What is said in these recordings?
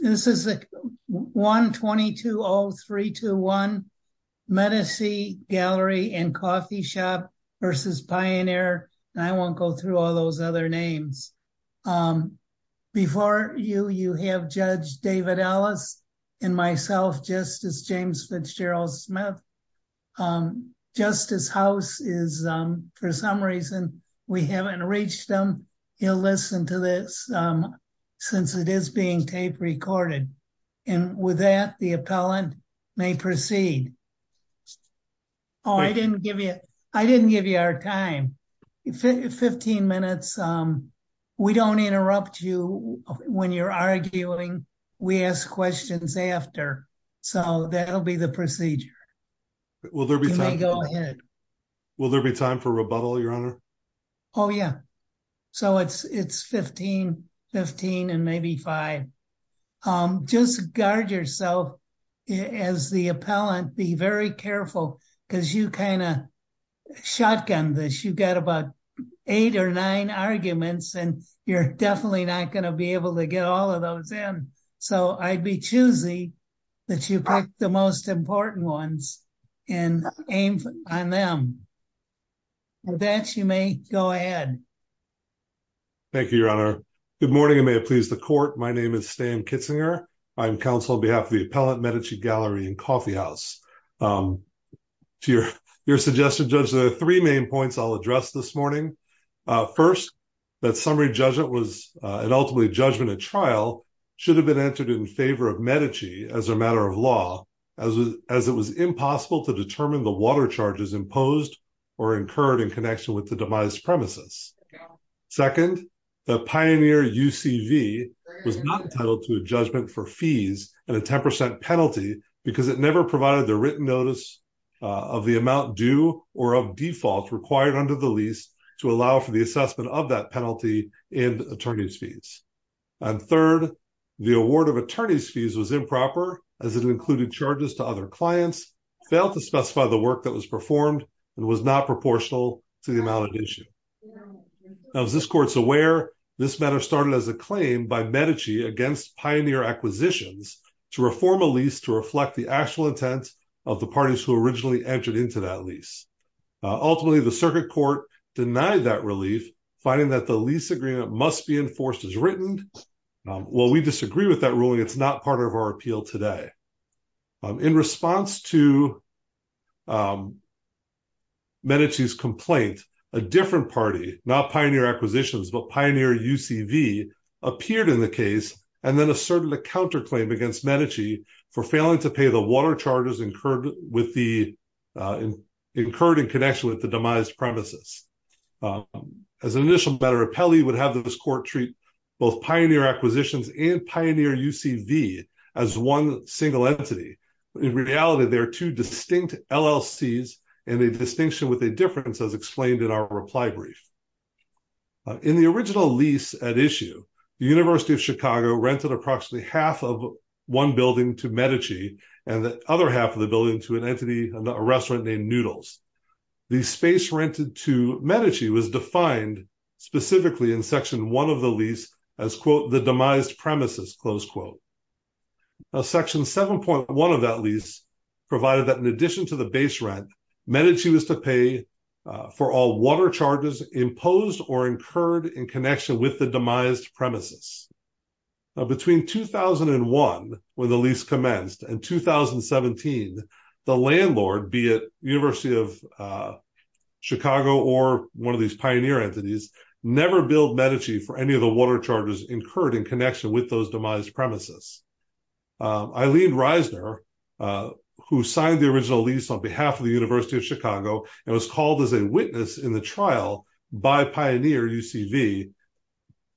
This is 1220321 Medici Gallery and Coffee Shop versus Pioneer. I won't go through all those other names. Before you, you have Judge David Ellis and myself, Justice James Fitzgerald Smith. Justice House is, for some reason, we haven't reached him. He'll listen to this since it is being tape recorded. And with that, the appellant may proceed. Oh, I didn't give you our time. 15 minutes. We don't interrupt you when you're arguing. We ask questions after. So that'll be the procedure. Will there be time for rebuttal, Your Honor? Oh, yeah. So it's 15 and maybe five. Just guard yourself as the appellant. Be very careful because you kind of shotgun this. You got about eight or nine arguments, and you're definitely not going to be able to get all of those in. So I'd be choosy that you pick the most important ones and aim on them. With that, you may go ahead. Thank you, Your Honor. Good morning, and may it please the Court. My name is Stan Kitzinger. I'm counsel on behalf of the appellant, Medici Gallery and Coffeehouse. To your suggestion, Judge, there are three main points I'll address this morning. First, that summary judgment was, and ultimately judgment at trial, should have been entered in favor of Medici as a matter of law, as it was impossible to determine the water charges imposed or incurred in connection with the demise premises. Second, the Pioneer UCV was not entitled to a judgment for fees and a 10% penalty because it never provided the written notice of the amount due or of default required under the lease to allow for the assessment of that penalty in attorney's fees. And third, the award of attorney's fees was improper, as it included charges to other clients, failed to specify the work that was performed, and was not proportional to the amount at issue. Now, as this Court's aware, this matter started as a claim by Medici against Pioneer Acquisitions to reform a lease to reflect the actual intent of the parties who originally entered into that lease. Ultimately, the circuit court denied that relief, finding that the lease agreement must be enforced as written. While we disagree with that ruling, it's not part of our appeal today. In response to Medici's complaint, a different party, not Pioneer Acquisitions, but Pioneer UCV, appeared in the case and then asserted a counterclaim against Medici for failing to pay the water charges incurred in connection with the demise premises. As an initial better appellee would have this Court treat both Pioneer Acquisitions and Pioneer UCV as one single entity. In reality, there are two distinct LLCs and a distinction with a difference, as explained in our reply brief. In the original lease at issue, the University of Chicago rented approximately half of one building to Medici and the other half of the Medici was defined specifically in Section 1 of the lease as, quote, the demised premises, close quote. Section 7.1 of that lease provided that in addition to the base rent, Medici was to pay for all water charges imposed or incurred in connection with the demised premises. Between 2001, when the lease commenced, and 2017, the landlord, be it University of Chicago or one of these Pioneer entities, never billed Medici for any of the water charges incurred in connection with those demised premises. Eileen Reisner, who signed the original lease on behalf of the University of Chicago and was called as a witness in the trial by Pioneer UCV,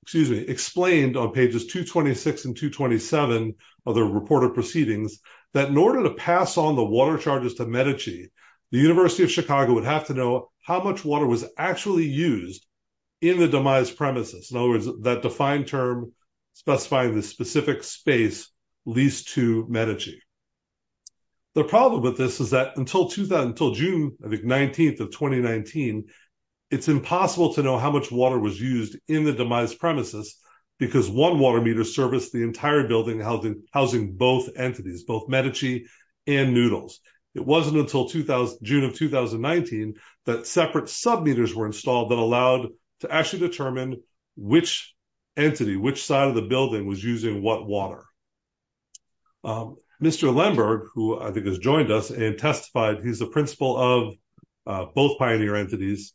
excuse me, explained on pages 226 and 227 of the reported proceedings that in order to pass on the water charges to Medici, the University of Chicago would have to know how much water was actually used in the demised premises. In other words, that defined term specifying the specific space leased to Medici. The problem with this is that until June 19th of 2019, it's impossible to know how much water was used in the demised premises because one water meter serviced the Medici and Noodles. It wasn't until June of 2019 that separate sub-meters were installed that allowed to actually determine which entity, which side of the building was using what water. Mr. Lemberg, who I think has joined us and testified, he's the principal of both Pioneer entities,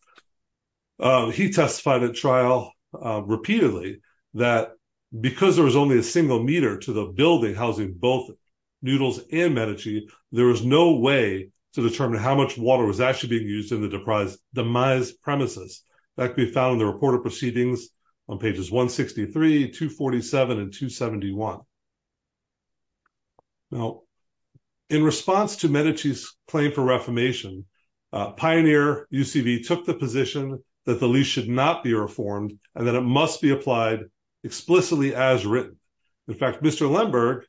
he testified at trial repeatedly that because there was only a single to the building housing both Noodles and Medici, there was no way to determine how much water was actually being used in the demised premises. That can be found in the reported proceedings on pages 163, 247, and 271. Now, in response to Medici's claim for reformation, Pioneer UCV took the position that the lease should not be reformed and that it must be applied explicitly as written. In fact, Mr. Lemberg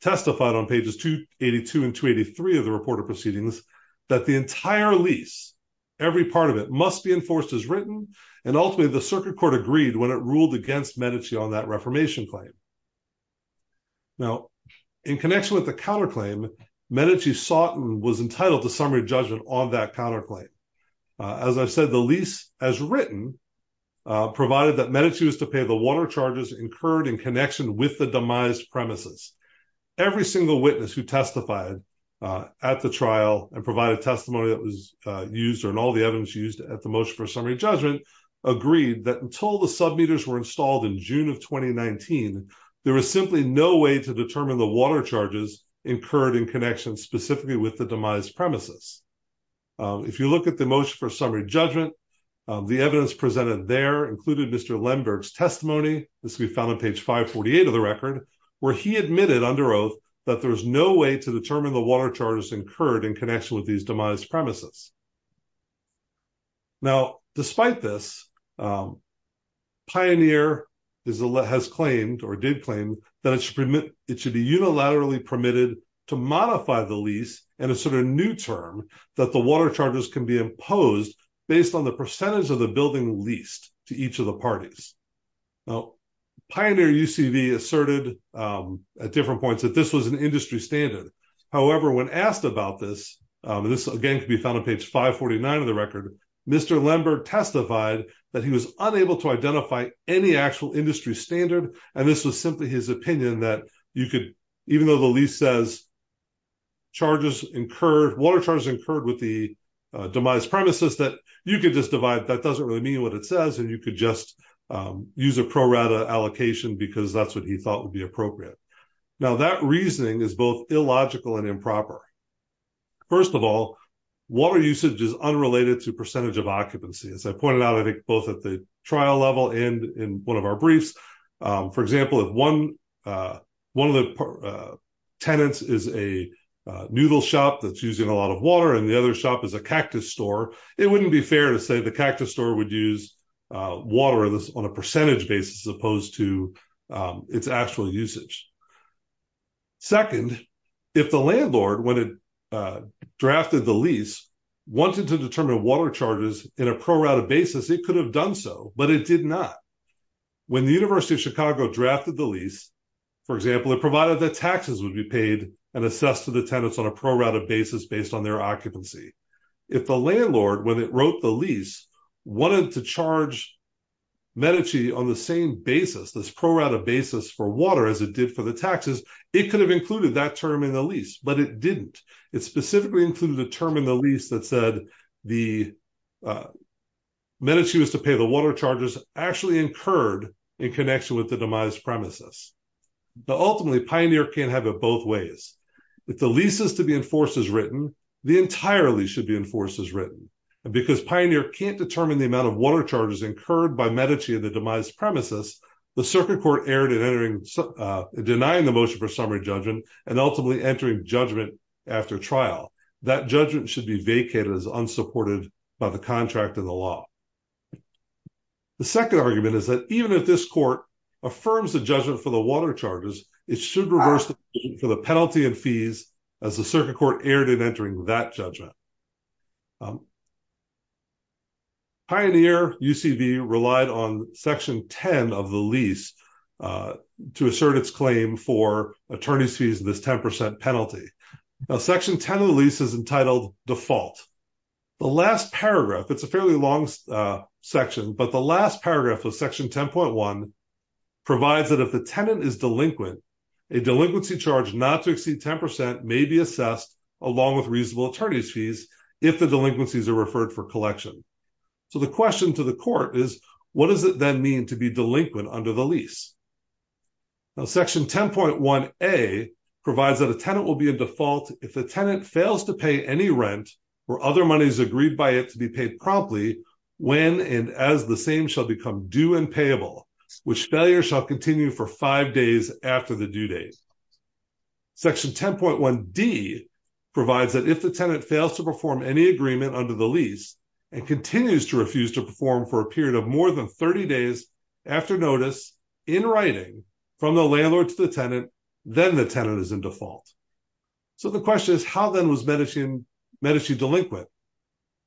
testified on pages 282 and 283 of the reported proceedings that the entire lease, every part of it, must be enforced as written and ultimately the circuit court agreed when it ruled against Medici on that reformation claim. Now, in connection with the counterclaim, Medici was entitled to summary judgment on that counterclaim. As I said, the lease as written provided that Medici was to pay the water charges incurred in connection with the demised premises. Every single witness who testified at the trial and provided testimony that was used and all the evidence used at the motion for summary judgment agreed that until the submitters were installed in June of 2019, there was simply no way to determine the water charges incurred in connection specifically with the demised premises. If you look at the motion for summary judgment, the evidence presented there included Mr. Lemberg's testimony, this can be found on page 548 of the record, where he admitted under oath that there's no way to determine the water charges incurred in connection with these demised premises. Now, despite this, Pioneer has claimed or did claim that it should be unilaterally permitted to modify the lease and assert a new term that the water charges can be imposed based on the percentage of the building leased to each of the parties. Now, Pioneer UCV asserted at different points that this was an industry standard. However, when asked about this, this again could be found on page 549 of the record, Mr. Lemberg testified that he was unable to identify any actual industry standard and this was simply his opinion that you could, even though the lease says charges incurred, water charges incurred with the demised premises, that you could just divide, that doesn't really mean what it says and you could just use a pro rata allocation because that's what he thought would be appropriate. Now, that reasoning is both illogical and improper. First of all, water usage is unrelated to percentage of occupancy. As I pointed out, I think both at the trial level and in one of our tenants is a noodle shop that's using a lot of water and the other shop is a cactus store. It wouldn't be fair to say the cactus store would use water on a percentage basis as opposed to its actual usage. Second, if the landlord, when it drafted the lease, wanted to determine water charges in a pro rata basis, it could have done so, but it did not. When the University of Chicago drafted the lease, for example, it provided that taxes would be paid and assessed to the tenants on a pro rata basis based on their occupancy. If the landlord, when it wrote the lease, wanted to charge Medici on the same basis, this pro rata basis for water as it did for the taxes, it could have included that term in the lease, but it didn't. It specifically included a term in the lease that said Medici was to pay the water charges actually incurred in connection with the demise premises. But ultimately, Pioneer can't have it both ways. If the lease is to be enforced as written, the entire lease should be enforced as written. And because Pioneer can't determine the amount of water charges incurred by Medici in the demise premises, the circuit court erred in denying the motion for summary judgment and ultimately entering judgment after trial. That judgment should be vacated as unsupported by the contract of the law. The second argument is that even if this court affirms the judgment for the water charges, it should reverse the decision for the penalty and fees as the circuit court erred in entering that judgment. Pioneer UCV relied on section 10 of the lease to assert its claim for attorney's fees in this 10% penalty. Now section 10 of the lease is entitled default. The last section, but the last paragraph of section 10.1 provides that if the tenant is delinquent, a delinquency charge not to exceed 10% may be assessed along with reasonable attorney's fees if the delinquencies are referred for collection. So the question to the court is, what does it then mean to be delinquent under the lease? Now section 10.1A provides that a tenant will be a default if the tenant fails to pay any rent or other monies agreed by it to be promptly when and as the same shall become due and payable, which failure shall continue for five days after the due date. Section 10.1D provides that if the tenant fails to perform any agreement under the lease and continues to refuse to perform for a period of more than 30 days after notice in writing from the landlord to the tenant, then the tenant is in default. So the question is, how then was Medici delinquent?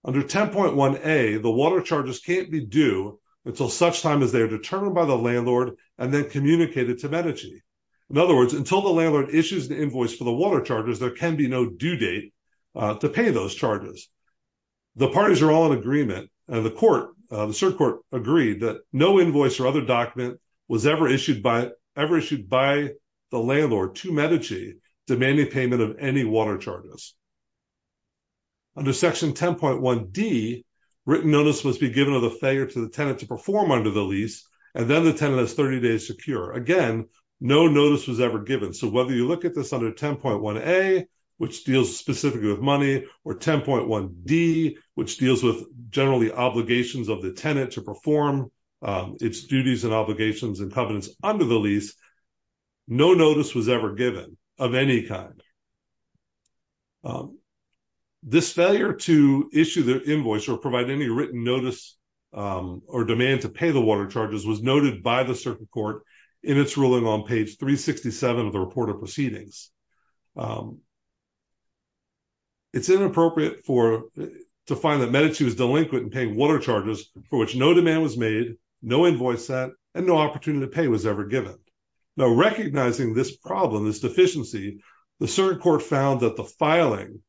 Under 10.1A, the water charges can't be due until such time as they are determined by the landlord and then communicated to Medici. In other words, until the landlord issues the invoice for the water charges, there can be no due date to pay those charges. The parties are all in agreement and the court, the cert court agreed that no invoice or other document was ever issued by the landlord to Medici demanding payment of any water charges. Under Section 10.1D, written notice must be given of the failure to the tenant to perform under the lease and then the tenant has 30 days secure. Again, no notice was ever given. So whether you look at this under 10.1A, which deals specifically with money or 10.1D, which deals with generally obligations of the tenant to perform its duties and covenants under the lease, no notice was ever given of any kind. This failure to issue the invoice or provide any written notice or demand to pay the water charges was noted by the cert court in its ruling on page 367 of the report of proceedings. It's inappropriate to find that Medici was delinquent in paying water charges for which demand was made, no invoice set, and no opportunity to pay was ever given. Now, recognizing this problem, this deficiency, the cert court found that the filing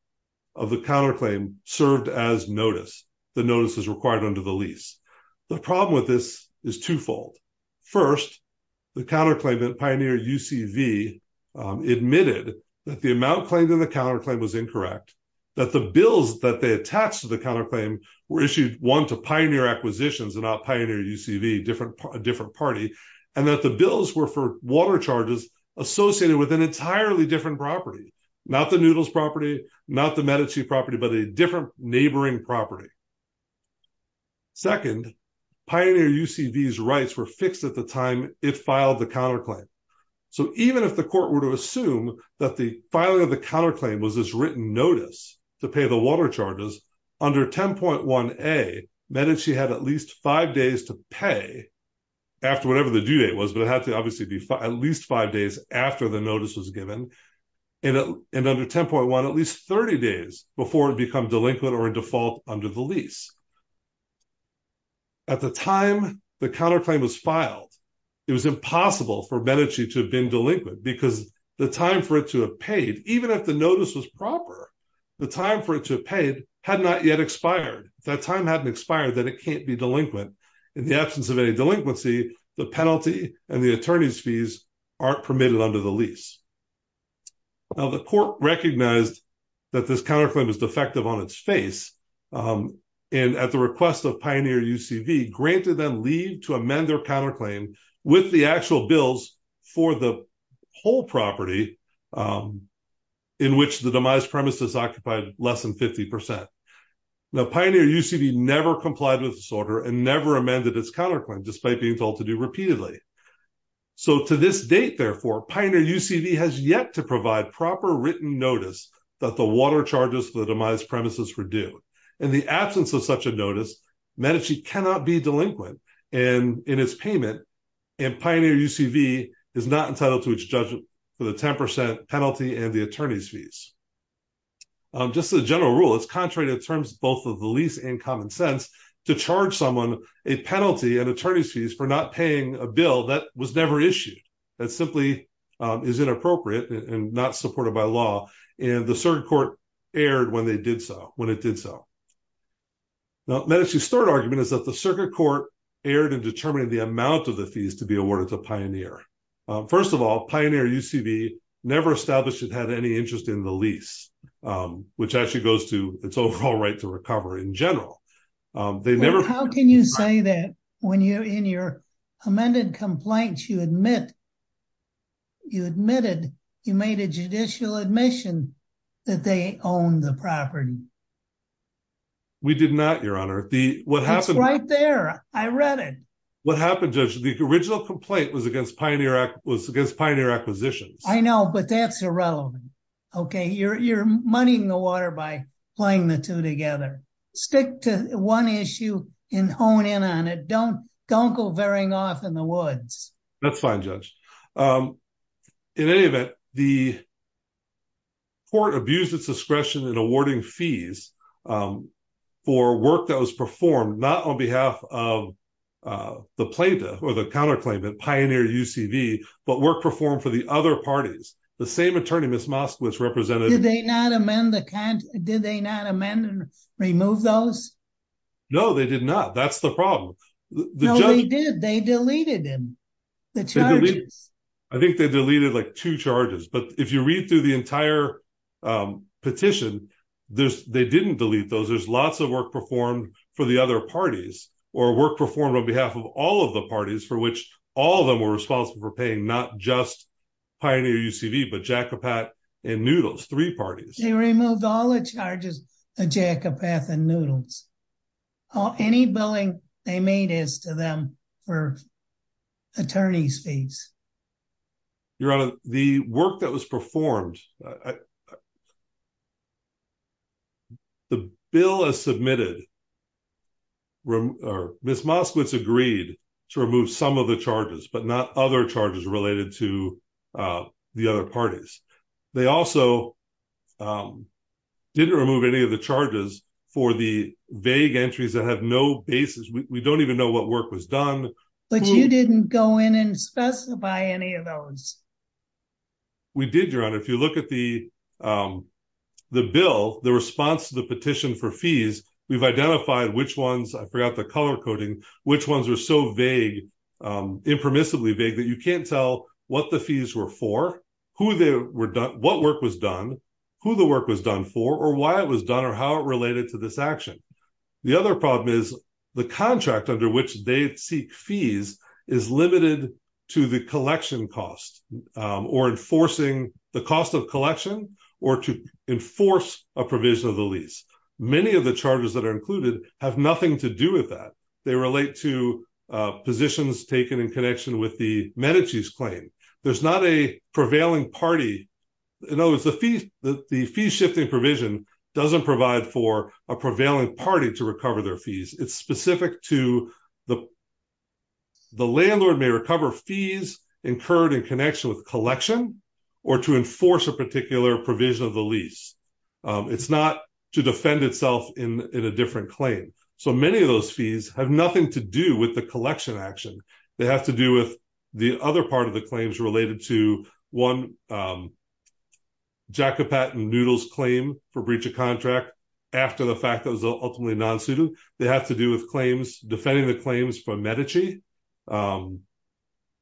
of the counterclaim served as notice. The notice is required under the lease. The problem with this is twofold. First, the counterclaimant, Pioneer UCV, admitted that the amount claimed in the counterclaim was incorrect, that the bills that they attached to the counterclaim were issued one to Pioneer Acquisitions and not Pioneer UCV, a different party, and that the bills were for water charges associated with an entirely different property, not the Noodles property, not the Medici property, but a different neighboring property. Second, Pioneer UCV's rights were fixed at the time it filed the counterclaim. So even if the court were to assume that the filing of the counterclaim was this written notice to pay the water charges, under 10.1a Medici had at least five days to pay after whatever the due date was, but it had to obviously be at least five days after the notice was given, and under 10.1 at least 30 days before it become delinquent or in default under the lease. At the time the counterclaim was filed, it was impossible for Medici to have been delinquent because the time for it to have paid, even if the notice was proper, the time for it to have paid had not yet expired. If that time hadn't expired, then it can't be delinquent. In the absence of any delinquency, the penalty and the attorney's fees aren't permitted under the lease. Now the court recognized that this counterclaim is defective on its face, and at the request of Pioneer UCV, granted them leave to amend their counterclaim with the actual bills for the whole property in which the demise premises occupied less than 50%. Now Pioneer UCV never complied with this order and never amended its counterclaim despite being told to do repeatedly. So to this date therefore, Pioneer UCV has yet to provide proper written notice that the water charges for the notice. Medici cannot be delinquent in its payment, and Pioneer UCV is not entitled to its judgment for the 10% penalty and the attorney's fees. Just a general rule, it's contrary to terms both of the lease and common sense to charge someone a penalty and attorney's fees for not paying a bill that was never issued. That simply is inappropriate and not supported by law, and the circuit court erred when it did so. Now Medici's third argument is that the circuit court erred in determining the amount of the fees to be awarded to Pioneer. First of all, Pioneer UCV never established it had any interest in the lease, which actually goes to its overall right to recover in general. They never... How can you say that when you're in your that they own the property? We did not, your honor. It's right there. I read it. What happened, Judge? The original complaint was against Pioneer Acquisitions. I know, but that's irrelevant. Okay, you're moneying the water by playing the two together. Stick to one issue and hone in on it. Don't go veering off in the woods. That's fine, Judge. In any event, court abused its discretion in awarding fees for work that was performed not on behalf of the plaintiff or the counterclaimant, Pioneer UCV, but work performed for the other parties. The same attorney, Ms. Moskowitz, represented... Did they not amend and remove those? No, they did not. That's the problem. No, they did. They deleted them, the charges. I think they deleted two charges, but if you read through the entire petition, they didn't delete those. There's lots of work performed for the other parties or work performed on behalf of all of the parties for which all of them were responsible for paying, not just Pioneer UCV, but Jacobat and Noodles, three parties. They removed all the charges on Jacobat and Noodles. Any billing they made is to them for attorney's fees. Your Honor, the work that was performed... The bill as submitted... Ms. Moskowitz agreed to remove some of the charges, but not other charges related to the other parties. They also didn't remove any of the charges for the vague entries that have no basis. We don't even know what work was done. But you didn't go in and specify any of those? We did, Your Honor. If you look at the bill, the response to the petition for fees, we've identified which ones... I forgot the color coding, which ones are so impermissibly vague that you can't tell what the fees were for, what work was done, who the work was done for, or why it was done, or how it related to this action. The other problem is the contract under which they seek fees is limited to the collection cost or enforcing the cost of collection or to enforce a provision of the lease. Many of the charges that have nothing to do with that. They relate to positions taken in connection with the Medici's claim. There's not a prevailing party... In other words, the fee-shifting provision doesn't provide for a prevailing party to recover their fees. It's specific to the... The landlord may recover fees incurred in connection with collection or to enforce a claim. Many of those fees have nothing to do with the collection action. They have to do with the other part of the claims related to, one, Jacopat and Noodle's claim for breach of contract after the fact that was ultimately non-suited. They have to do with claims, defending the claims from Medici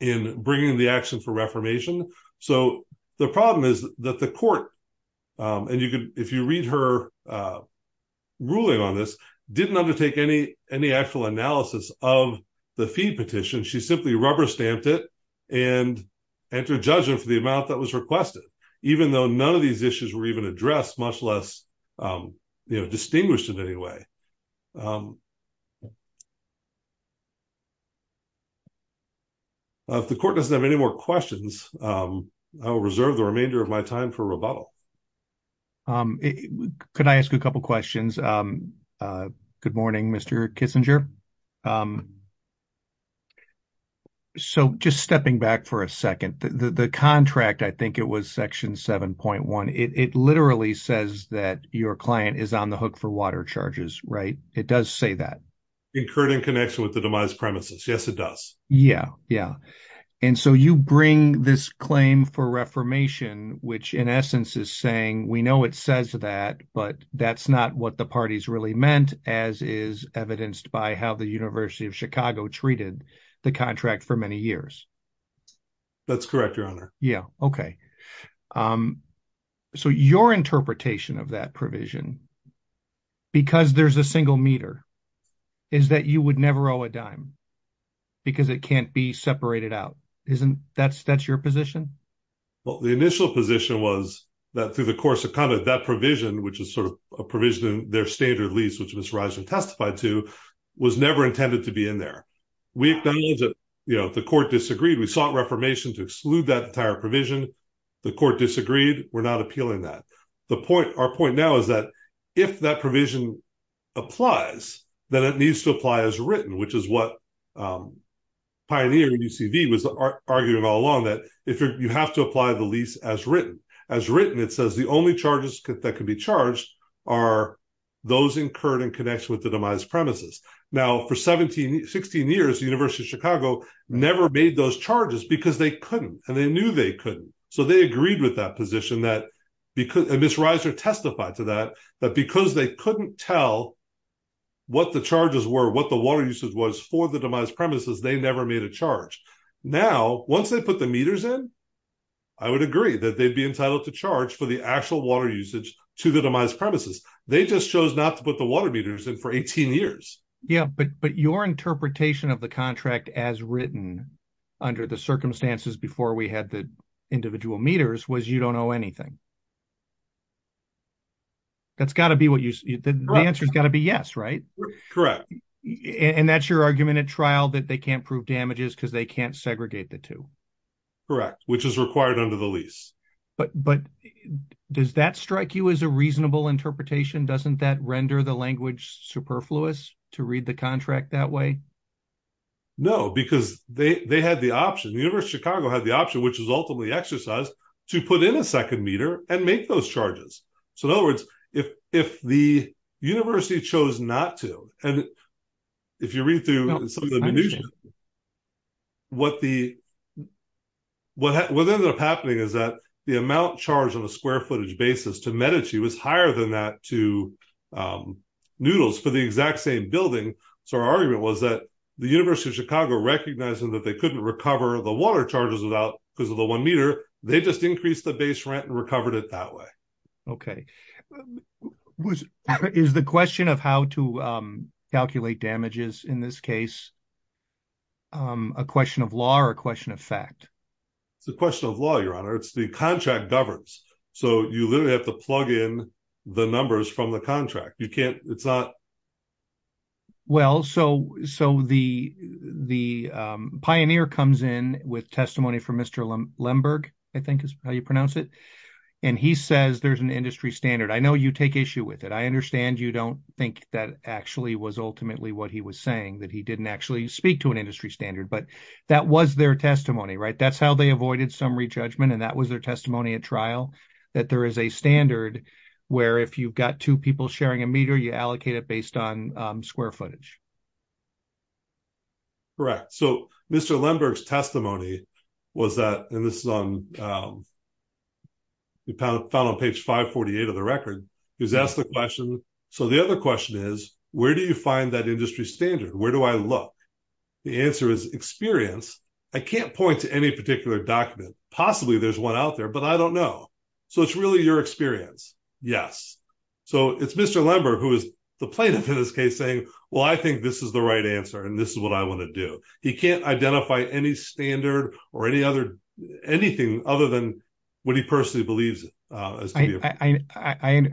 in bringing the action for reformation. The problem is that the court... If you read her ruling on this, didn't undertake any actual analysis of the fee petition. She simply rubber-stamped it and entered judgment for the amount that was requested, even though none of these issues were even addressed, much less distinguished in any way. If the court doesn't have any more questions, I will reserve the remainder of my time for rebuttal. Could I ask a couple of questions? Good morning, Mr. Kissinger. So just stepping back for a second, the contract, I think it was section 7.1, it literally says that your client is on the hook for water charges, right? It does say that. Incurred in connection with the demise premises. Yes, it does. Yeah, yeah. And so you bring this claim for reformation, which in essence is saying, we know it says that, but that's not what the parties really meant, as is evidenced by how the University of Chicago treated the contract for many years. That's correct, your honor. Yeah. Okay. So your interpretation of that provision, because there's a single meter, is that you would never owe a dime because it can't be separated out. That's your position? Well, the initial position was that through the course of conduct, that provision, which is sort of a provision in their standard lease, which Ms. Risen testified to, was never intended to be in there. We acknowledge that the court disagreed. We sought reformation to exclude that entire provision. The court disagreed. We're not appealing that. Our point now is that if that provision applies, then it needs to apply as written, which is what Pioneer and UCV was arguing all along, if you have to apply the lease as written. As written, it says the only charges that can be charged are those incurred in connection with the demise premises. Now, for 16 years, the University of Chicago never made those charges because they couldn't, and they knew they couldn't. So they agreed with that position, and Ms. Risen testified to that, that because they couldn't tell what the charges were, what the water usage was for the demise premises, they never made a charge. Now, once they put the meters in, I would agree that they'd be entitled to charge for the actual water usage to the demise premises. They just chose not to put the water meters in for 18 years. Yeah, but your interpretation of the contract as written under the circumstances before we had the individual meters was you don't owe anything. That's got to be what you, the answer's got to be yes, right? Correct. And that's your argument at trial, that they can't prove damages because they can't segregate the two. Correct, which is required under the lease. But does that strike you as a reasonable interpretation? Doesn't that render the language superfluous to read the contract that way? No, because they had the option, the University of Chicago had the option, which was ultimately exercised, to put in a second meter and make those charges. So in other words, if the university chose not to, and if you read some of the minutiae, what ended up happening is that the amount charged on a square footage basis to Medici was higher than that to Noodles for the exact same building. So our argument was that the University of Chicago, recognizing that they couldn't recover the water charges because of the one meter, they just increased the base rent and recovered it that way. Okay. Was, is the question of how to calculate damages in this case, a question of law or a question of fact? It's a question of law, your honor. It's the contract governs. So you literally have to plug in the numbers from the contract. You can't, it's not. Well, so the pioneer comes in with testimony from Mr. Lemberg, I think is how you pronounce it. And he says, there's an industry standard. I know you take issue with it. I understand you don't think that actually was ultimately what he was saying that he didn't actually speak to an industry standard, but that was their testimony, right? That's how they avoided summary judgment. And that was their testimony at trial, that there is a standard where if you've got two people sharing a meter, you allocate it based on square footage. Correct. So Mr. Lemberg's testimony was that, and this is on, we found on page 548 of the record, he was asked the question. So the other question is, where do you find that industry standard? Where do I look? The answer is experience. I can't point to any particular document. Possibly there's one out there, but I don't know. So it's really your experience. Yes. So it's Mr. Lemberg, who is the plaintiff in this case saying, well, I think this is the right answer. And this is what I want to do. He can't identify any standard or anything other than what he personally believes. I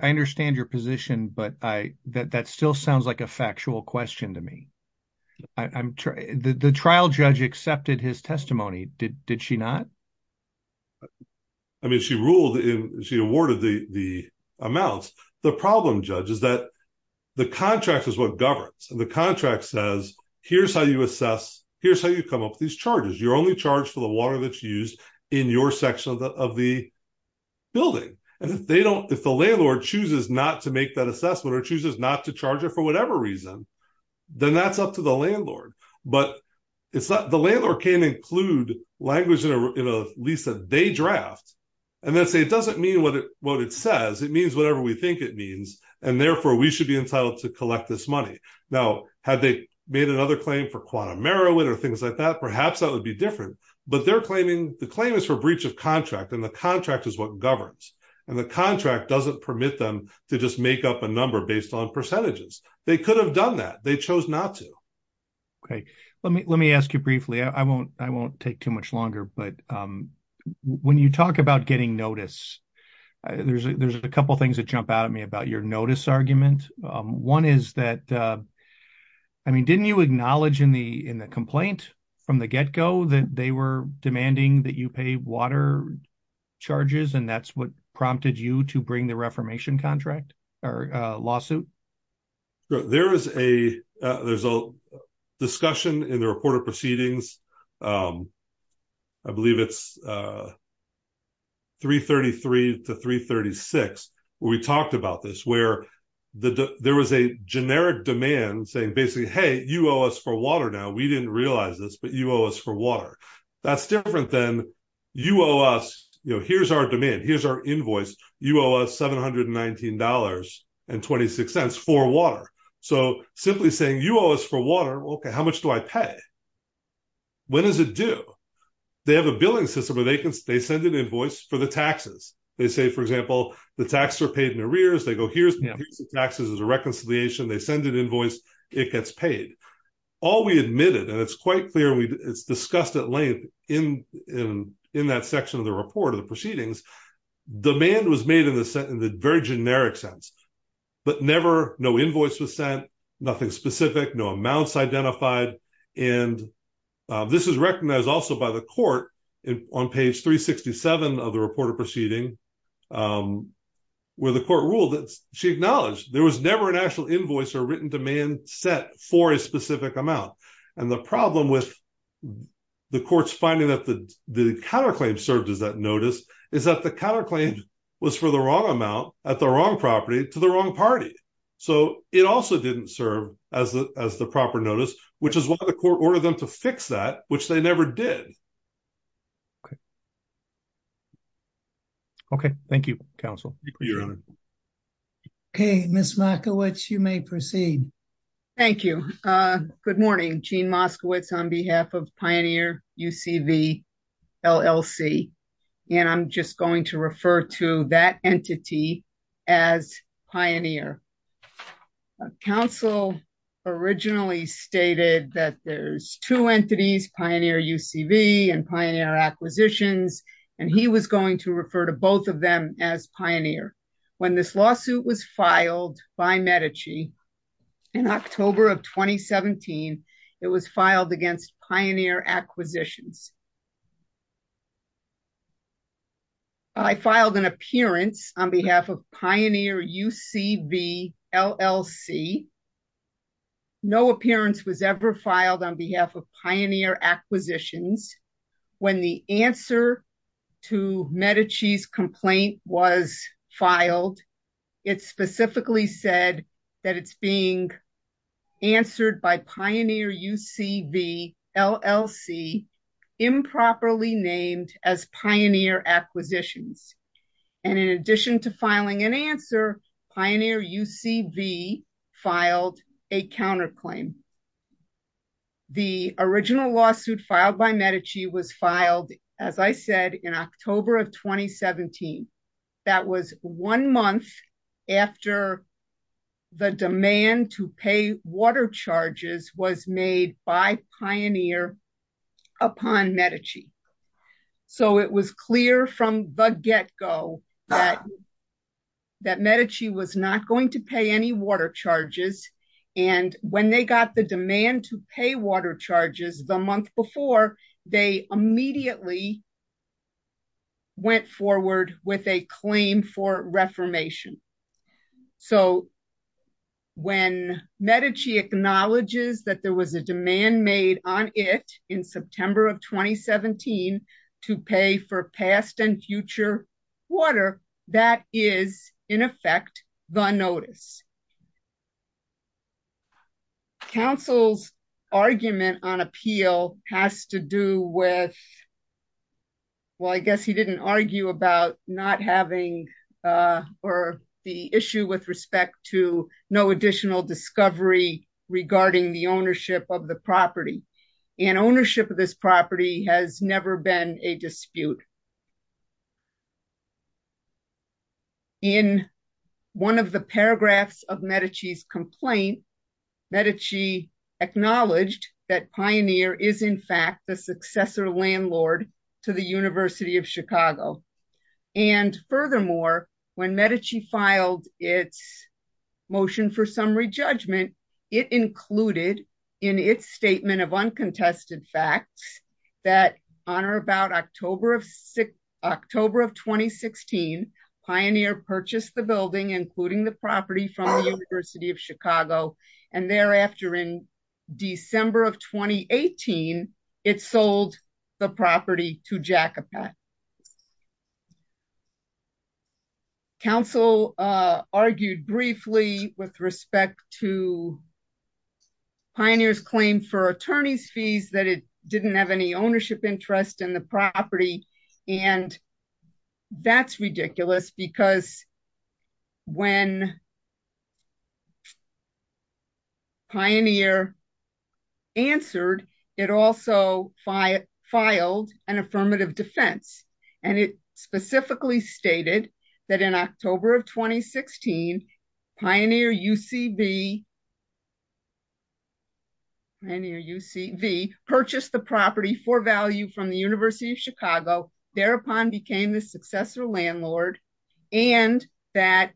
understand your position, but that still sounds like a factual question to me. The trial judge accepted his testimony, did she not? I mean, she ruled, she awarded the amounts. The problem, Judge, is that the contract is what governs. And the contract says, here's how you assess, here's how you come up with these charges. You're only charged for the water that's used in your section of the building. And if they don't, if the landlord chooses not to make that assessment or chooses not to charge it for whatever reason, then that's up to the landlord. But the landlord can include language in at least a day draft and then say, it doesn't mean what it says. It means whatever we think it means. And therefore we should be entitled to collect this or things like that. Perhaps that would be different, but they're claiming the claim is for breach of contract and the contract is what governs. And the contract doesn't permit them to just make up a number based on percentages. They could have done that. They chose not to. Okay. Let me ask you briefly. I won't take too much longer, but when you talk about getting notice, there's a couple of things that jump out at me about your notice argument. One is that, I mean, didn't you acknowledge in the complaint from the get-go that they were demanding that you pay water charges and that's what prompted you to bring the reformation lawsuit? There's a discussion in the report of proceedings. I believe it's 333 to 336 where we talked about this, where there was a generic demand saying basically, hey, you owe us for water now. We didn't realize this, but you owe us for water. That's different than you owe us. Here's our demand. Here's our invoice. You owe us $719.26 for water. So simply saying you owe us for water. Okay. How much do I pay? When does it do? They have a billing system where they send an invoice for the taxes. They say, for example, the taxes are paid in arrears. They go, here's the taxes as a reconciliation. They send an invoice. It gets paid. All we admitted, and it's quite clear, it's discussed at length in that section of the report of the proceedings, demand was made in the very generic sense, but never, no invoice was sent, nothing specific, no amounts identified. And this is recognized also by the court on page 367 of the report of proceeding where the court ruled that she acknowledged there was never an actual invoice or written demand set for a specific amount. And the problem with the court's finding that the counterclaim served as that notice is that the counterclaim was for the wrong amount at the wrong property to the wrong party. So it also didn't serve as the proper notice, which is why the court ordered them to fix that, which they never did. Okay. Thank you, counsel. Okay. Ms. Moskowitz, you may proceed. Thank you. Good morning. Jean Moskowitz on behalf of Pioneer UCV LLC. And I'm just going to refer to that entity as Pioneer. Counsel originally stated that there's two entities, Pioneer UCV and Pioneer Acquisitions, and he was going to refer to both of them as Pioneer. When this lawsuit was filed by Medici in October of 2017, it was filed against Pioneer Acquisitions. I filed an appearance on behalf of Pioneer UCV LLC. No appearance was ever filed on behalf of Pioneer Acquisitions. When the answer to Medici's complaint was filed, it specifically said that it's being answered by Pioneer UCV LLC improperly named as Pioneer Acquisitions. And in addition to filing an answer, Pioneer UCV filed a counterclaim. The original lawsuit filed by Medici was filed, as I said, in October of 2017. That was one month after the demand to pay water charges was made by Pioneer upon Medici. So it was clear from the get-go that Medici was not going to pay any water charges. And when they got the demand to pay water charges, they were not going to pay any water charges. They were not going to pay any water charges. So when Medici acknowledges that there was a demand made on it in September of 2017 to pay for past and future water, that is, in effect, the notice. Counsel's argument on appeal has to do with, well, I guess he didn't argue about not having or the issue with respect to no additional discovery regarding the ownership of the property. And ownership of this property has never been a dispute. In one of the paragraphs of Medici's complaint, Medici acknowledged that Pioneer is, in fact, the successor landlord to the University of Chicago. And furthermore, when Medici filed its motion for summary judgment, it included in its statement of uncontested facts that on or about October of 2016, Pioneer purchased the building, including the property from the University of Chicago. And thereafter, in December of 2018, it sold the property to Jacobet. Counsel argued briefly with respect to Pioneer's claim for attorney's fees that it and that's ridiculous because when Pioneer answered, it also filed an affirmative defense. And it specifically stated that in thereupon became the successor landlord, and that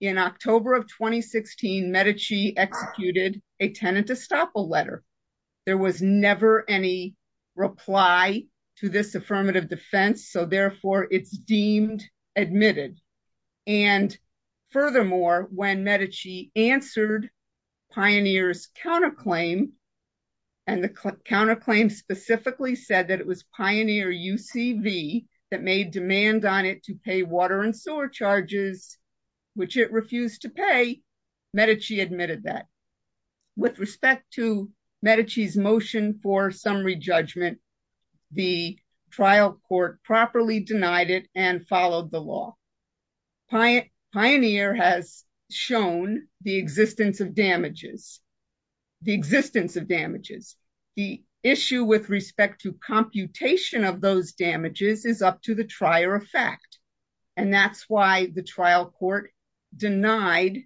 in October of 2016, Medici executed a tenant to stop a letter. There was never any reply to this affirmative defense. So therefore, it's deemed admitted. And furthermore, when Medici answered Pioneer's counterclaim, and the counterclaim specifically said that it was Pioneer UCV that made demand on it to pay water and sewer charges, which it refused to pay, Medici admitted that. With respect to Medici's motion for summary judgment, the trial court properly denied it and followed the law. Pioneer has shown the existence of damages, the existence of damages, the issue with respect to computation of those damages is up to the trier effect. And that's why the trial court denied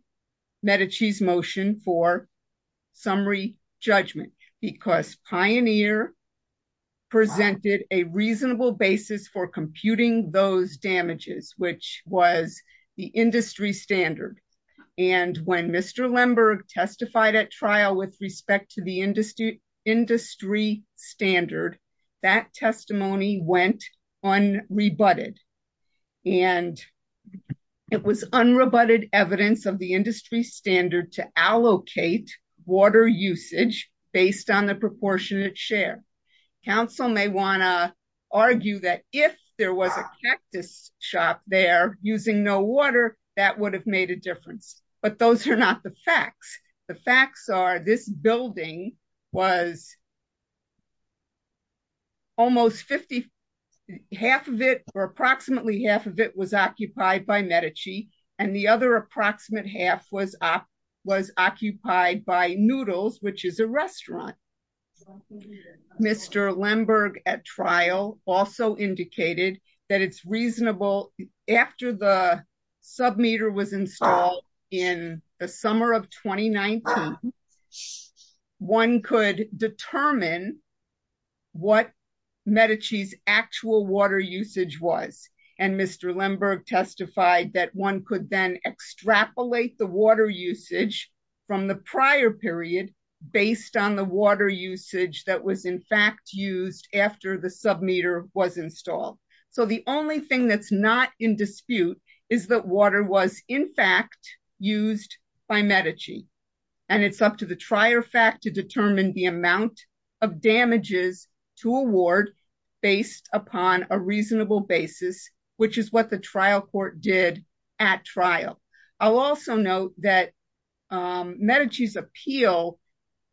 Medici's motion for summary judgment, because Pioneer presented a reasonable basis for the industry standard. And when Mr. Lemberg testified at trial with respect to the industry standard, that testimony went unrebutted. And it was unrebutted evidence of the industry standard to allocate water usage based on the proportionate share. Council may want to using no water, that would have made a difference. But those are not the facts. The facts are this building was almost 50. Half of it or approximately half of it was occupied by Medici. And the other approximate half was up was occupied by noodles, which is a restaurant. So Mr. Lemberg at trial also indicated that it's reasonable after the sub meter was installed in the summer of 2019. One could determine what Medici's actual water usage was, and Mr. Lemberg testified that one could then extrapolate the water usage from the prior period, based on the water usage that was in fact used after the sub meter was installed. So the only thing that's not in dispute is that water was in fact used by Medici. And it's up to the trier fact to determine the amount of damages to award based upon a reasonable basis, which is what the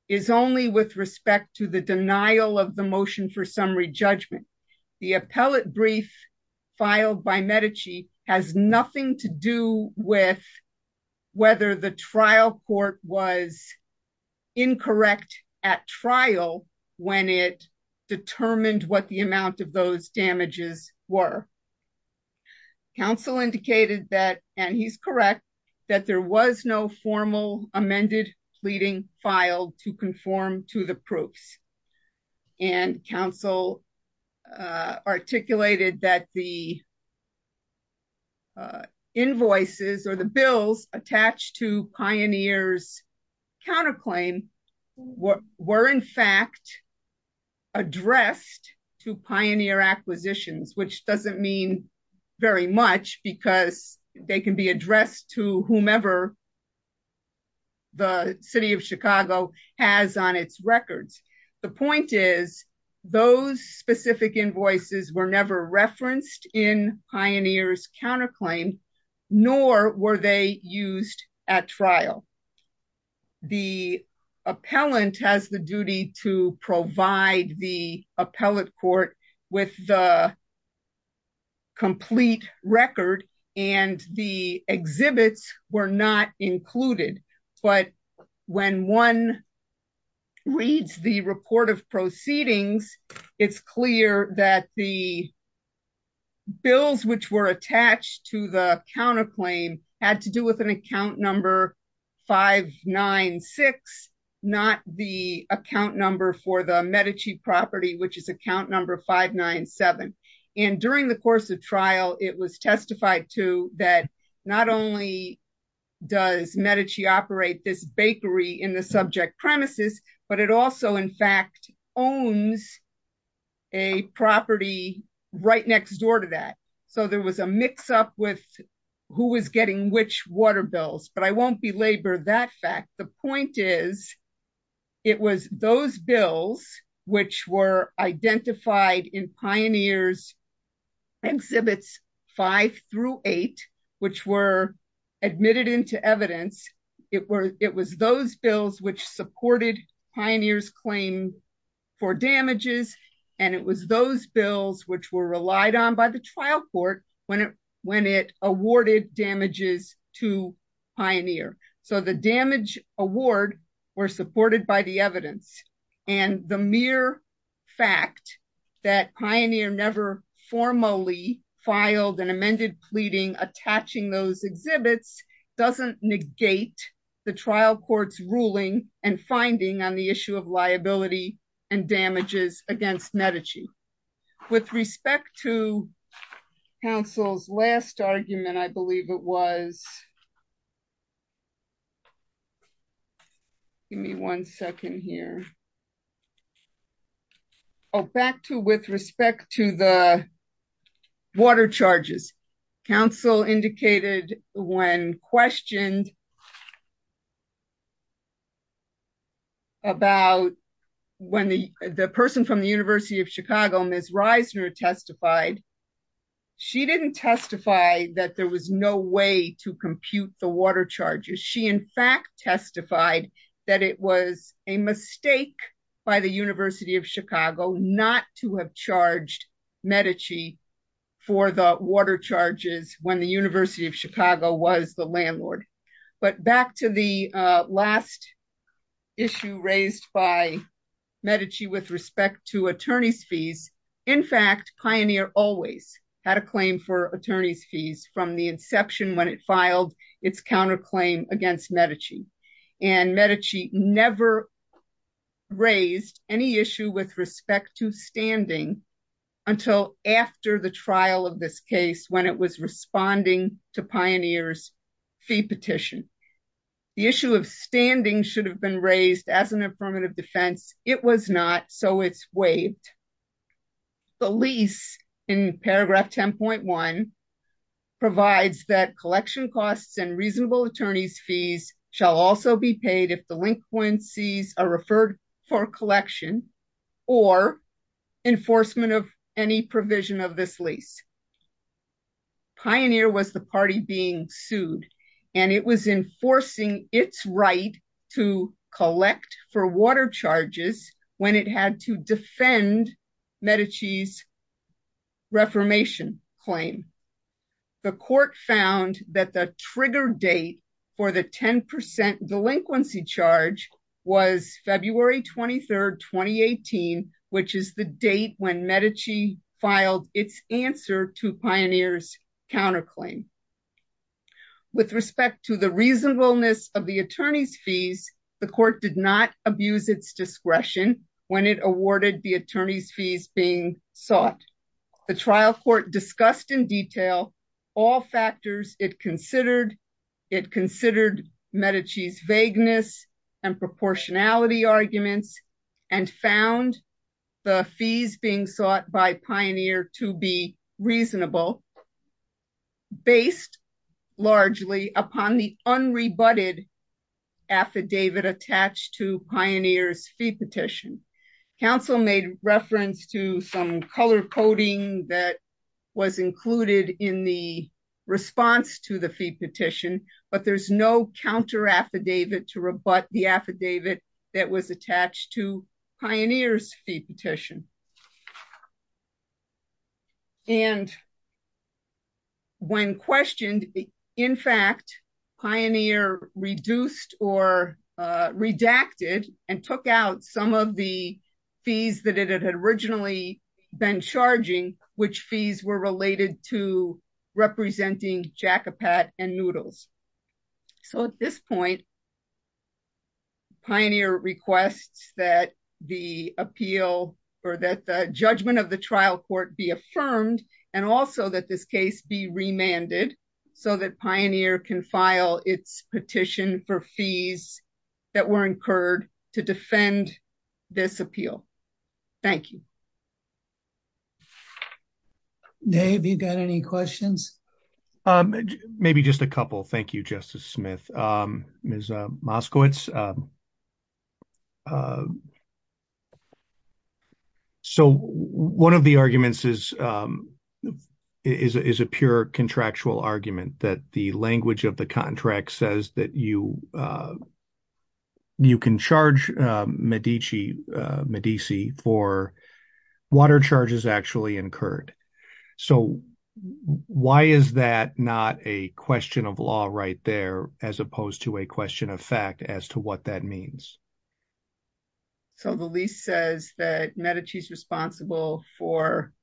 is only with respect to the denial of the motion for summary judgment. The appellate brief filed by Medici has nothing to do with whether the trial court was incorrect at trial, when it determined what the amount of those damages were. Council indicated that and he's correct, that there was no formal amended pleading filed to conform to the proofs. And council articulated that the invoices or the bills attached to pioneers counterclaim what were in fact addressed to pioneer acquisitions, which doesn't mean very much because they can be addressed to whomever the city of Chicago has on its records. The point is, those specific invoices were never referenced in pioneers counterclaim, nor were they used at trial. The appellant has the duty to provide the court with the complete record and the exhibits were not included. But when one reads the report of proceedings, it's clear that the bills which were attached to the counterclaim had to do with an account number 596, not the account number for the Medici property, which is account number 597. And during the course of trial, it was testified to that not only does Medici operate this bakery in the subject premises, but it also in fact, owns a property right next door to that. So there was a mix up with who was getting which water bills, but I won't belabor that fact. The point is, it was those bills, which were identified in pioneers exhibits five through eight, which were admitted into evidence, it was those bills which supported pioneers claim for damages. And it was those bills which were relied on by the trial court when it when it awarded damages to pioneer. So the damage award were supported by the evidence. And the mere fact that pioneer never formally filed an amended pleading attaching those exhibits doesn't negate the trial courts ruling and finding on the issue of liability and damages against Medici. With respect to counsel's last argument, I believe it was. Give me one second here. Oh, back to with respect to the water charges. Council indicated when questioned about when the the person from the University of Chicago, Ms. Reisner testified, she didn't testify that there was no way to compute the water charges. She in fact testified that it was a mistake by the University of Chicago not to have charged Medici for the Chicago was the landlord. But back to the last issue raised by Medici with respect to attorney's fees. In fact, pioneer always had a claim for attorney's fees from the inception when it filed its counterclaim against Medici. And Medici never raised any issue with respect to standing until after the trial of this case when it was responding to pioneers fee petition. The issue of standing should have been raised as an affirmative defense. It was not so it's waived. The lease in paragraph 10.1 provides that collection costs and reasonable attorney's fees shall also be paid if delinquencies are referred for collection, or enforcement of any provision of this lease. Pioneer was the party being sued, and it was enforcing its right to collect for water charges when it had to defend Medici's reformation claim. The court found that the delinquency charge was February 23, 2018, which is the date when Medici filed its answer to pioneers counterclaim. With respect to the reasonableness of the attorney's fees, the court did not abuse its discretion when it awarded the attorney's fees being sought. The trial court discussed in detail all factors it considered. It considered Medici's vagueness and proportionality arguments and found the fees being sought by Pioneer to be reasonable based largely upon the unrebutted affidavit attached to Pioneer's fee petition. Council made reference to some color coding that was included in the response to the fee petition, but there's no counter-affidavit to rebut the affidavit that was attached to Pioneer's fee petition. And when questioned, in fact, Pioneer reduced or redacted and took out some of the fees that it had originally been charging, which fees were related to representing jacopat and noodles. So at this point, Pioneer requests that the appeal or that the judgment of the trial court be affirmed and also that this case be remanded so that Pioneer can file its petition for fees that were incurred to defend this appeal. Thank you. Dave, you got any questions? Maybe just a couple. Thank you, Justice Smith. Ms. Moskowitz, so one of the arguments is a pure contractual argument that the language of the contract says that you can charge Medici for water charges actually incurred. So why is that not a question of law right there as opposed to a question of fact as to what that means? So the lease says that Medici's responsible for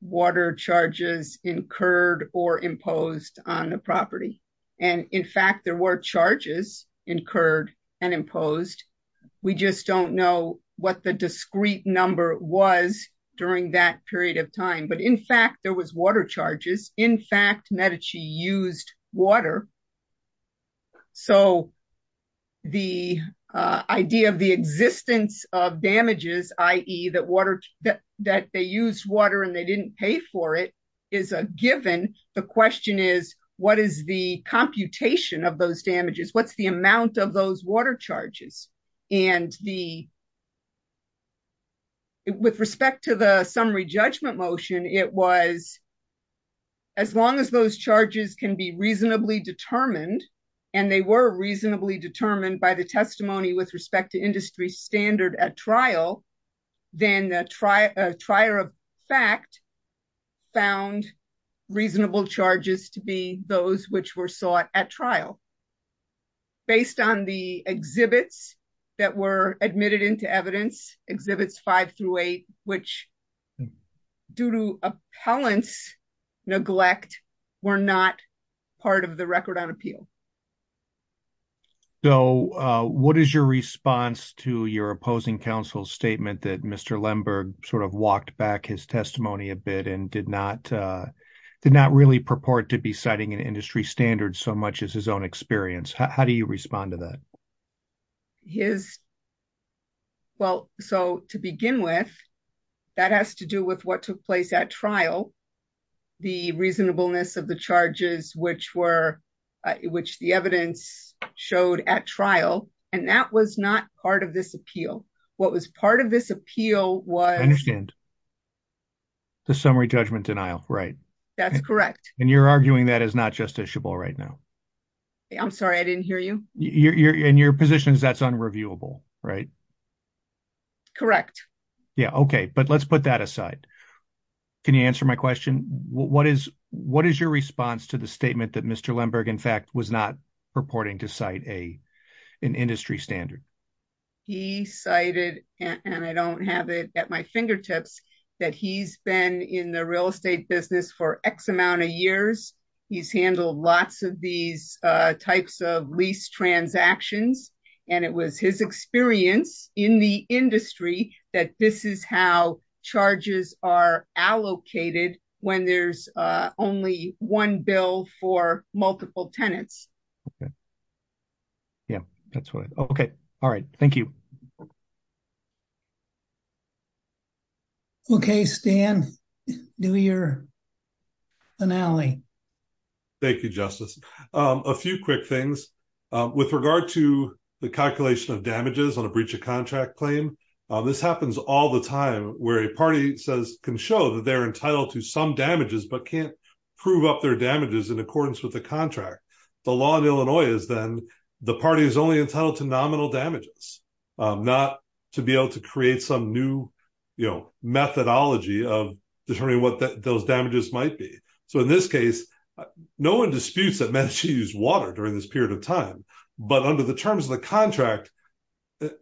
water charges incurred or imposed on the property, and in fact there were charges incurred and imposed. We just don't know what the discrete number was during that period of time. But in fact, there was water charges. In fact, Medici used water. So the idea of the existence of damages, i.e. that water, that they used water and they didn't pay for it, is a given. The question is, what is the computation of those damages? What's the amount of those water charges? And with respect to the summary judgment motion, it was as long as those charges can be reasonably determined, and they were reasonably determined by the testimony with respect to industry standard at trial, then a trier of fact found reasonable charges to be those which were sought at trial. Based on the exhibits that were admitted into evidence, Exhibits 5 through 8, which due to appellants' neglect, were not part of the record on appeal. So what is your response to your opposing counsel's statement that Mr. Lemberg sort of walked back his testimony a bit and did not did not really purport to be citing an industry standard so much as his own experience? How do you respond to that? Well, so to begin with, that has to do with what took place at trial. The reasonableness of the charges, which the evidence showed at trial, and that was not part of this appeal. What was part of this appeal was... I understand. The summary judgment denial, right? That's correct. And you're arguing that is not justiciable right now? I'm sorry, I didn't hear you. And your position is that's unreviewable, right? Correct. Yeah, okay. But let's put that aside. Can you answer my question? What is your response to the statement that Mr. Lemberg, in fact, was not purporting to cite an industry standard? He cited, and I don't have it at my fingertips, that he's been in the real estate business for X amount of years. He's handled lots of these types of lease transactions, and it was his experience in the industry that this is how charges are allocated when there's only one bill for multiple tenants. Okay. Yeah, that's what I... Okay. All right. Thank you. Okay, Stan, do your finale. Thank you, Justice. A few quick things. With regard to the calculation of damages on a breach of contract claim, this happens all the time where a party can show that they're entitled to some damages, but can't prove up their damages in accordance with the contract. The law in Illinois is then the party is only entitled to nominal damages, not to be able to create some new methodology of determining what those but under the terms of the contract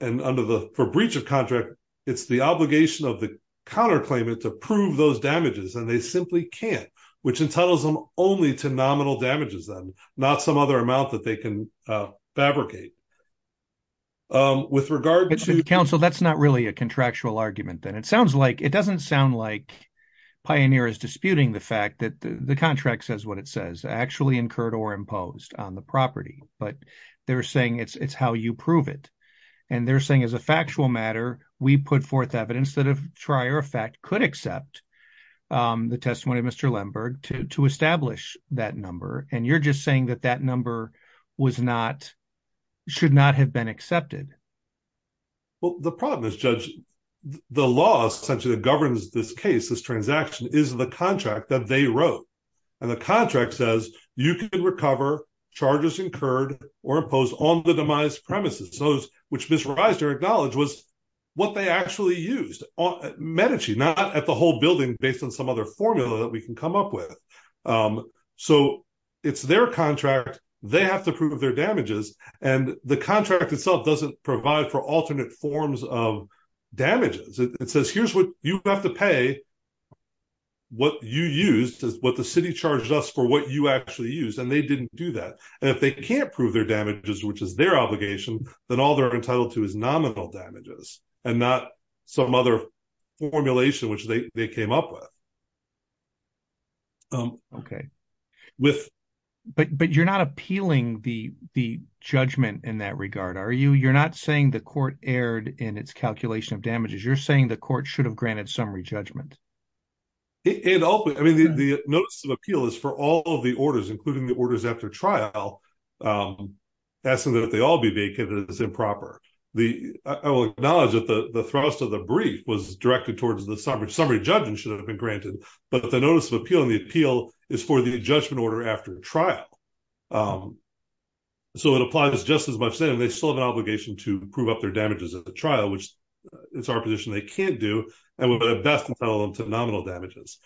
and under the... For breach of contract, it's the obligation of the counterclaimant to prove those damages, and they simply can't, which entitles them only to nominal damages then, not some other amount that they can fabricate. With regard to... Counsel, that's not really a contractual argument then. It sounds like... It doesn't sound like Pioneer is disputing the fact that the contract says what it says, actually incurred or imposed on the property, but they're saying it's how you prove it. And they're saying as a factual matter, we put forth evidence that a trier of fact could accept the testimony of Mr. Lemberg to establish that number. And you're just saying that that number should not have been accepted. Well, the problem is, Judge, the law essentially that governs this case, this transaction is the contract that they wrote. And the contract says, you can recover charges incurred or imposed on the demise premises. Those which Mr. Reiser acknowledged was what they actually used on Medici, not at the whole building based on some other formula that we can come up with. So it's their contract, they have to prove their damages. And the contract itself doesn't provide for alternate forms of for what you actually use. And they didn't do that. And if they can't prove their damages, which is their obligation, then all they're entitled to is nominal damages and not some other formulation, which they came up with. Okay. But you're not appealing the judgment in that regard, are you? You're not saying the court erred in its calculation of damages. You're saying the court should have granted summary judgment. I mean, the notice of appeal is for all of the orders, including the orders after trial, asking that they all be vacant as improper. I will acknowledge that the thrust of the brief was directed towards the summary judgment should have been granted. But the notice of appeal and the appeal is for the judgment order after trial. So it applies just as much saying they still have an obligation to prove up their damages at the trial, which it's our position they can't do. And we're going to best entitle them to nominal damages.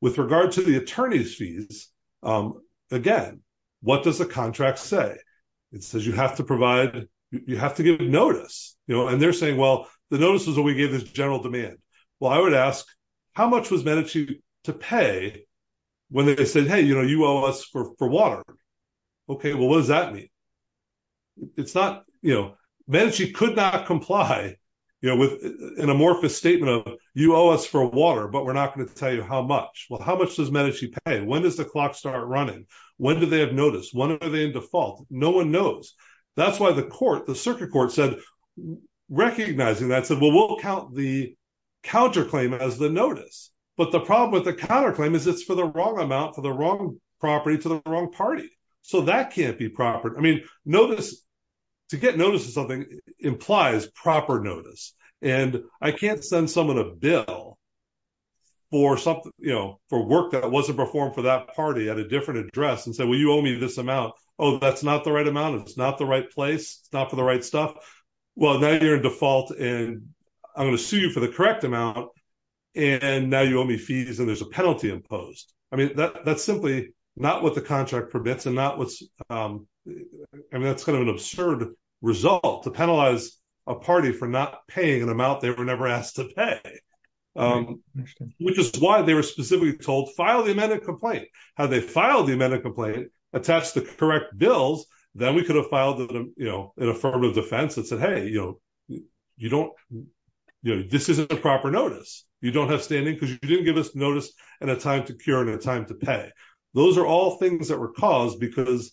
With regard to the attorney's fees, again, what does the contract say? It says you have to give notice. And they're saying, well, the notice is what we gave as general demand. Well, I would ask, how much was Medici to pay when they said, hey, you owe us for water? Okay. Well, what does that mean? It's not, you know, Medici could not comply with an amorphous statement of you owe us for water, but we're not going to tell you how much. Well, how much does Medici pay? When does the clock start running? When do they have notice? When are they in default? No one knows. That's why the court, the circuit court said, recognizing that, said, well, we'll count the counterclaim as the notice. But the problem with the counterclaim is it's for the wrong amount, for the wrong property, to the wrong party. So that can't be proper. I mean, notice, to get notice of something implies proper notice. And I can't send someone a bill for something, you know, for work that wasn't performed for that party at a different address and say, well, you owe me this amount. Oh, that's not the right amount. It's not the right place. It's not for the right stuff. Well, now you're in default, and I'm going to sue you for the not what the contract permits. And that's kind of an absurd result to penalize a party for not paying an amount they were never asked to pay, which is why they were specifically told, file the amended complaint. Had they filed the amended complaint, attached the correct bills, then we could have filed an affirmative defense that said, hey, this isn't a proper notice. You don't have standing because you didn't give us notice and a time to cure and a time to pay. Those are all things that were caused because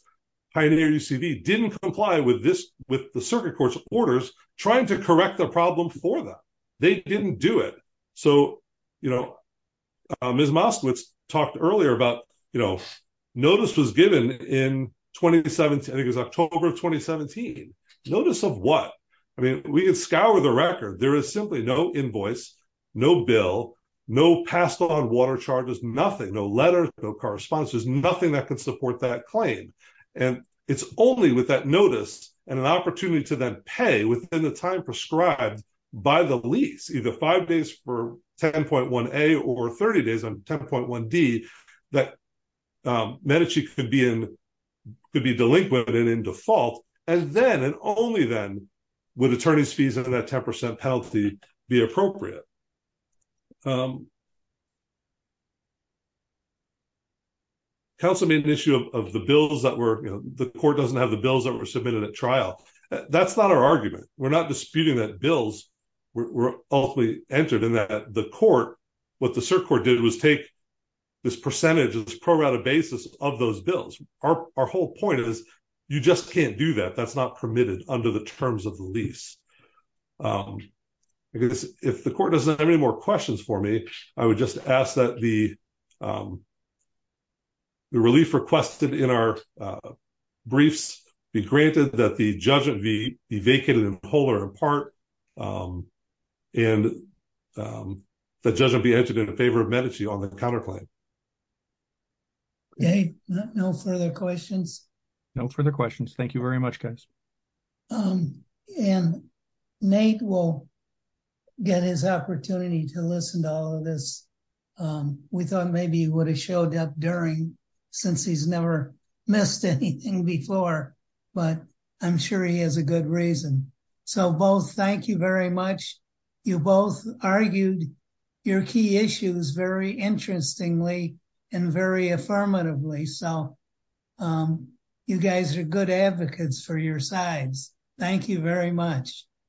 Pioneer UCV didn't comply with the circuit court's orders trying to correct the problem for them. They didn't do it. So, you know, Ms. Moskowitz talked earlier about, you know, notice was given in 2017. I think it was October of 2017. Notice of what? I mean, we can scour the record. There is simply no invoice, no bill, no passed on water charges, nothing, no letters, no correspondence. There's nothing that could support that claim. And it's only with that notice and an opportunity to then pay within the time prescribed by the lease, either five days for 10.1A or 30 days on 10.1D, that Medici could be delinquent and in default. And then and only then would attorney's fees under that 10% penalty be appropriate. Council made an issue of the bills that were, you know, the court doesn't have the bills that were submitted at trial. That's not our argument. We're not disputing that bills were ultimately entered in that the court, what the circuit court did was take this percentage of this pro rata basis of those bills. Our whole point is you just can't do that. That's not permitted under the terms of the lease. Because if the court doesn't have any more questions for me, I would just ask that the relief requested in our briefs be granted that the judgment be vacated and pulled apart and the judgment be entered in favor of Medici on the counterclaim. Okay, no further questions. No further questions. Thank you very much, guys. And Nate will get his opportunity to listen to all of this. We thought maybe he would have showed up during since he's never missed anything before, but I'm sure he has a good reason. So both, thank you very much. You both argued your key issues very interestingly, and very affirmatively. So you guys are good advocates for your sides. Thank you very much.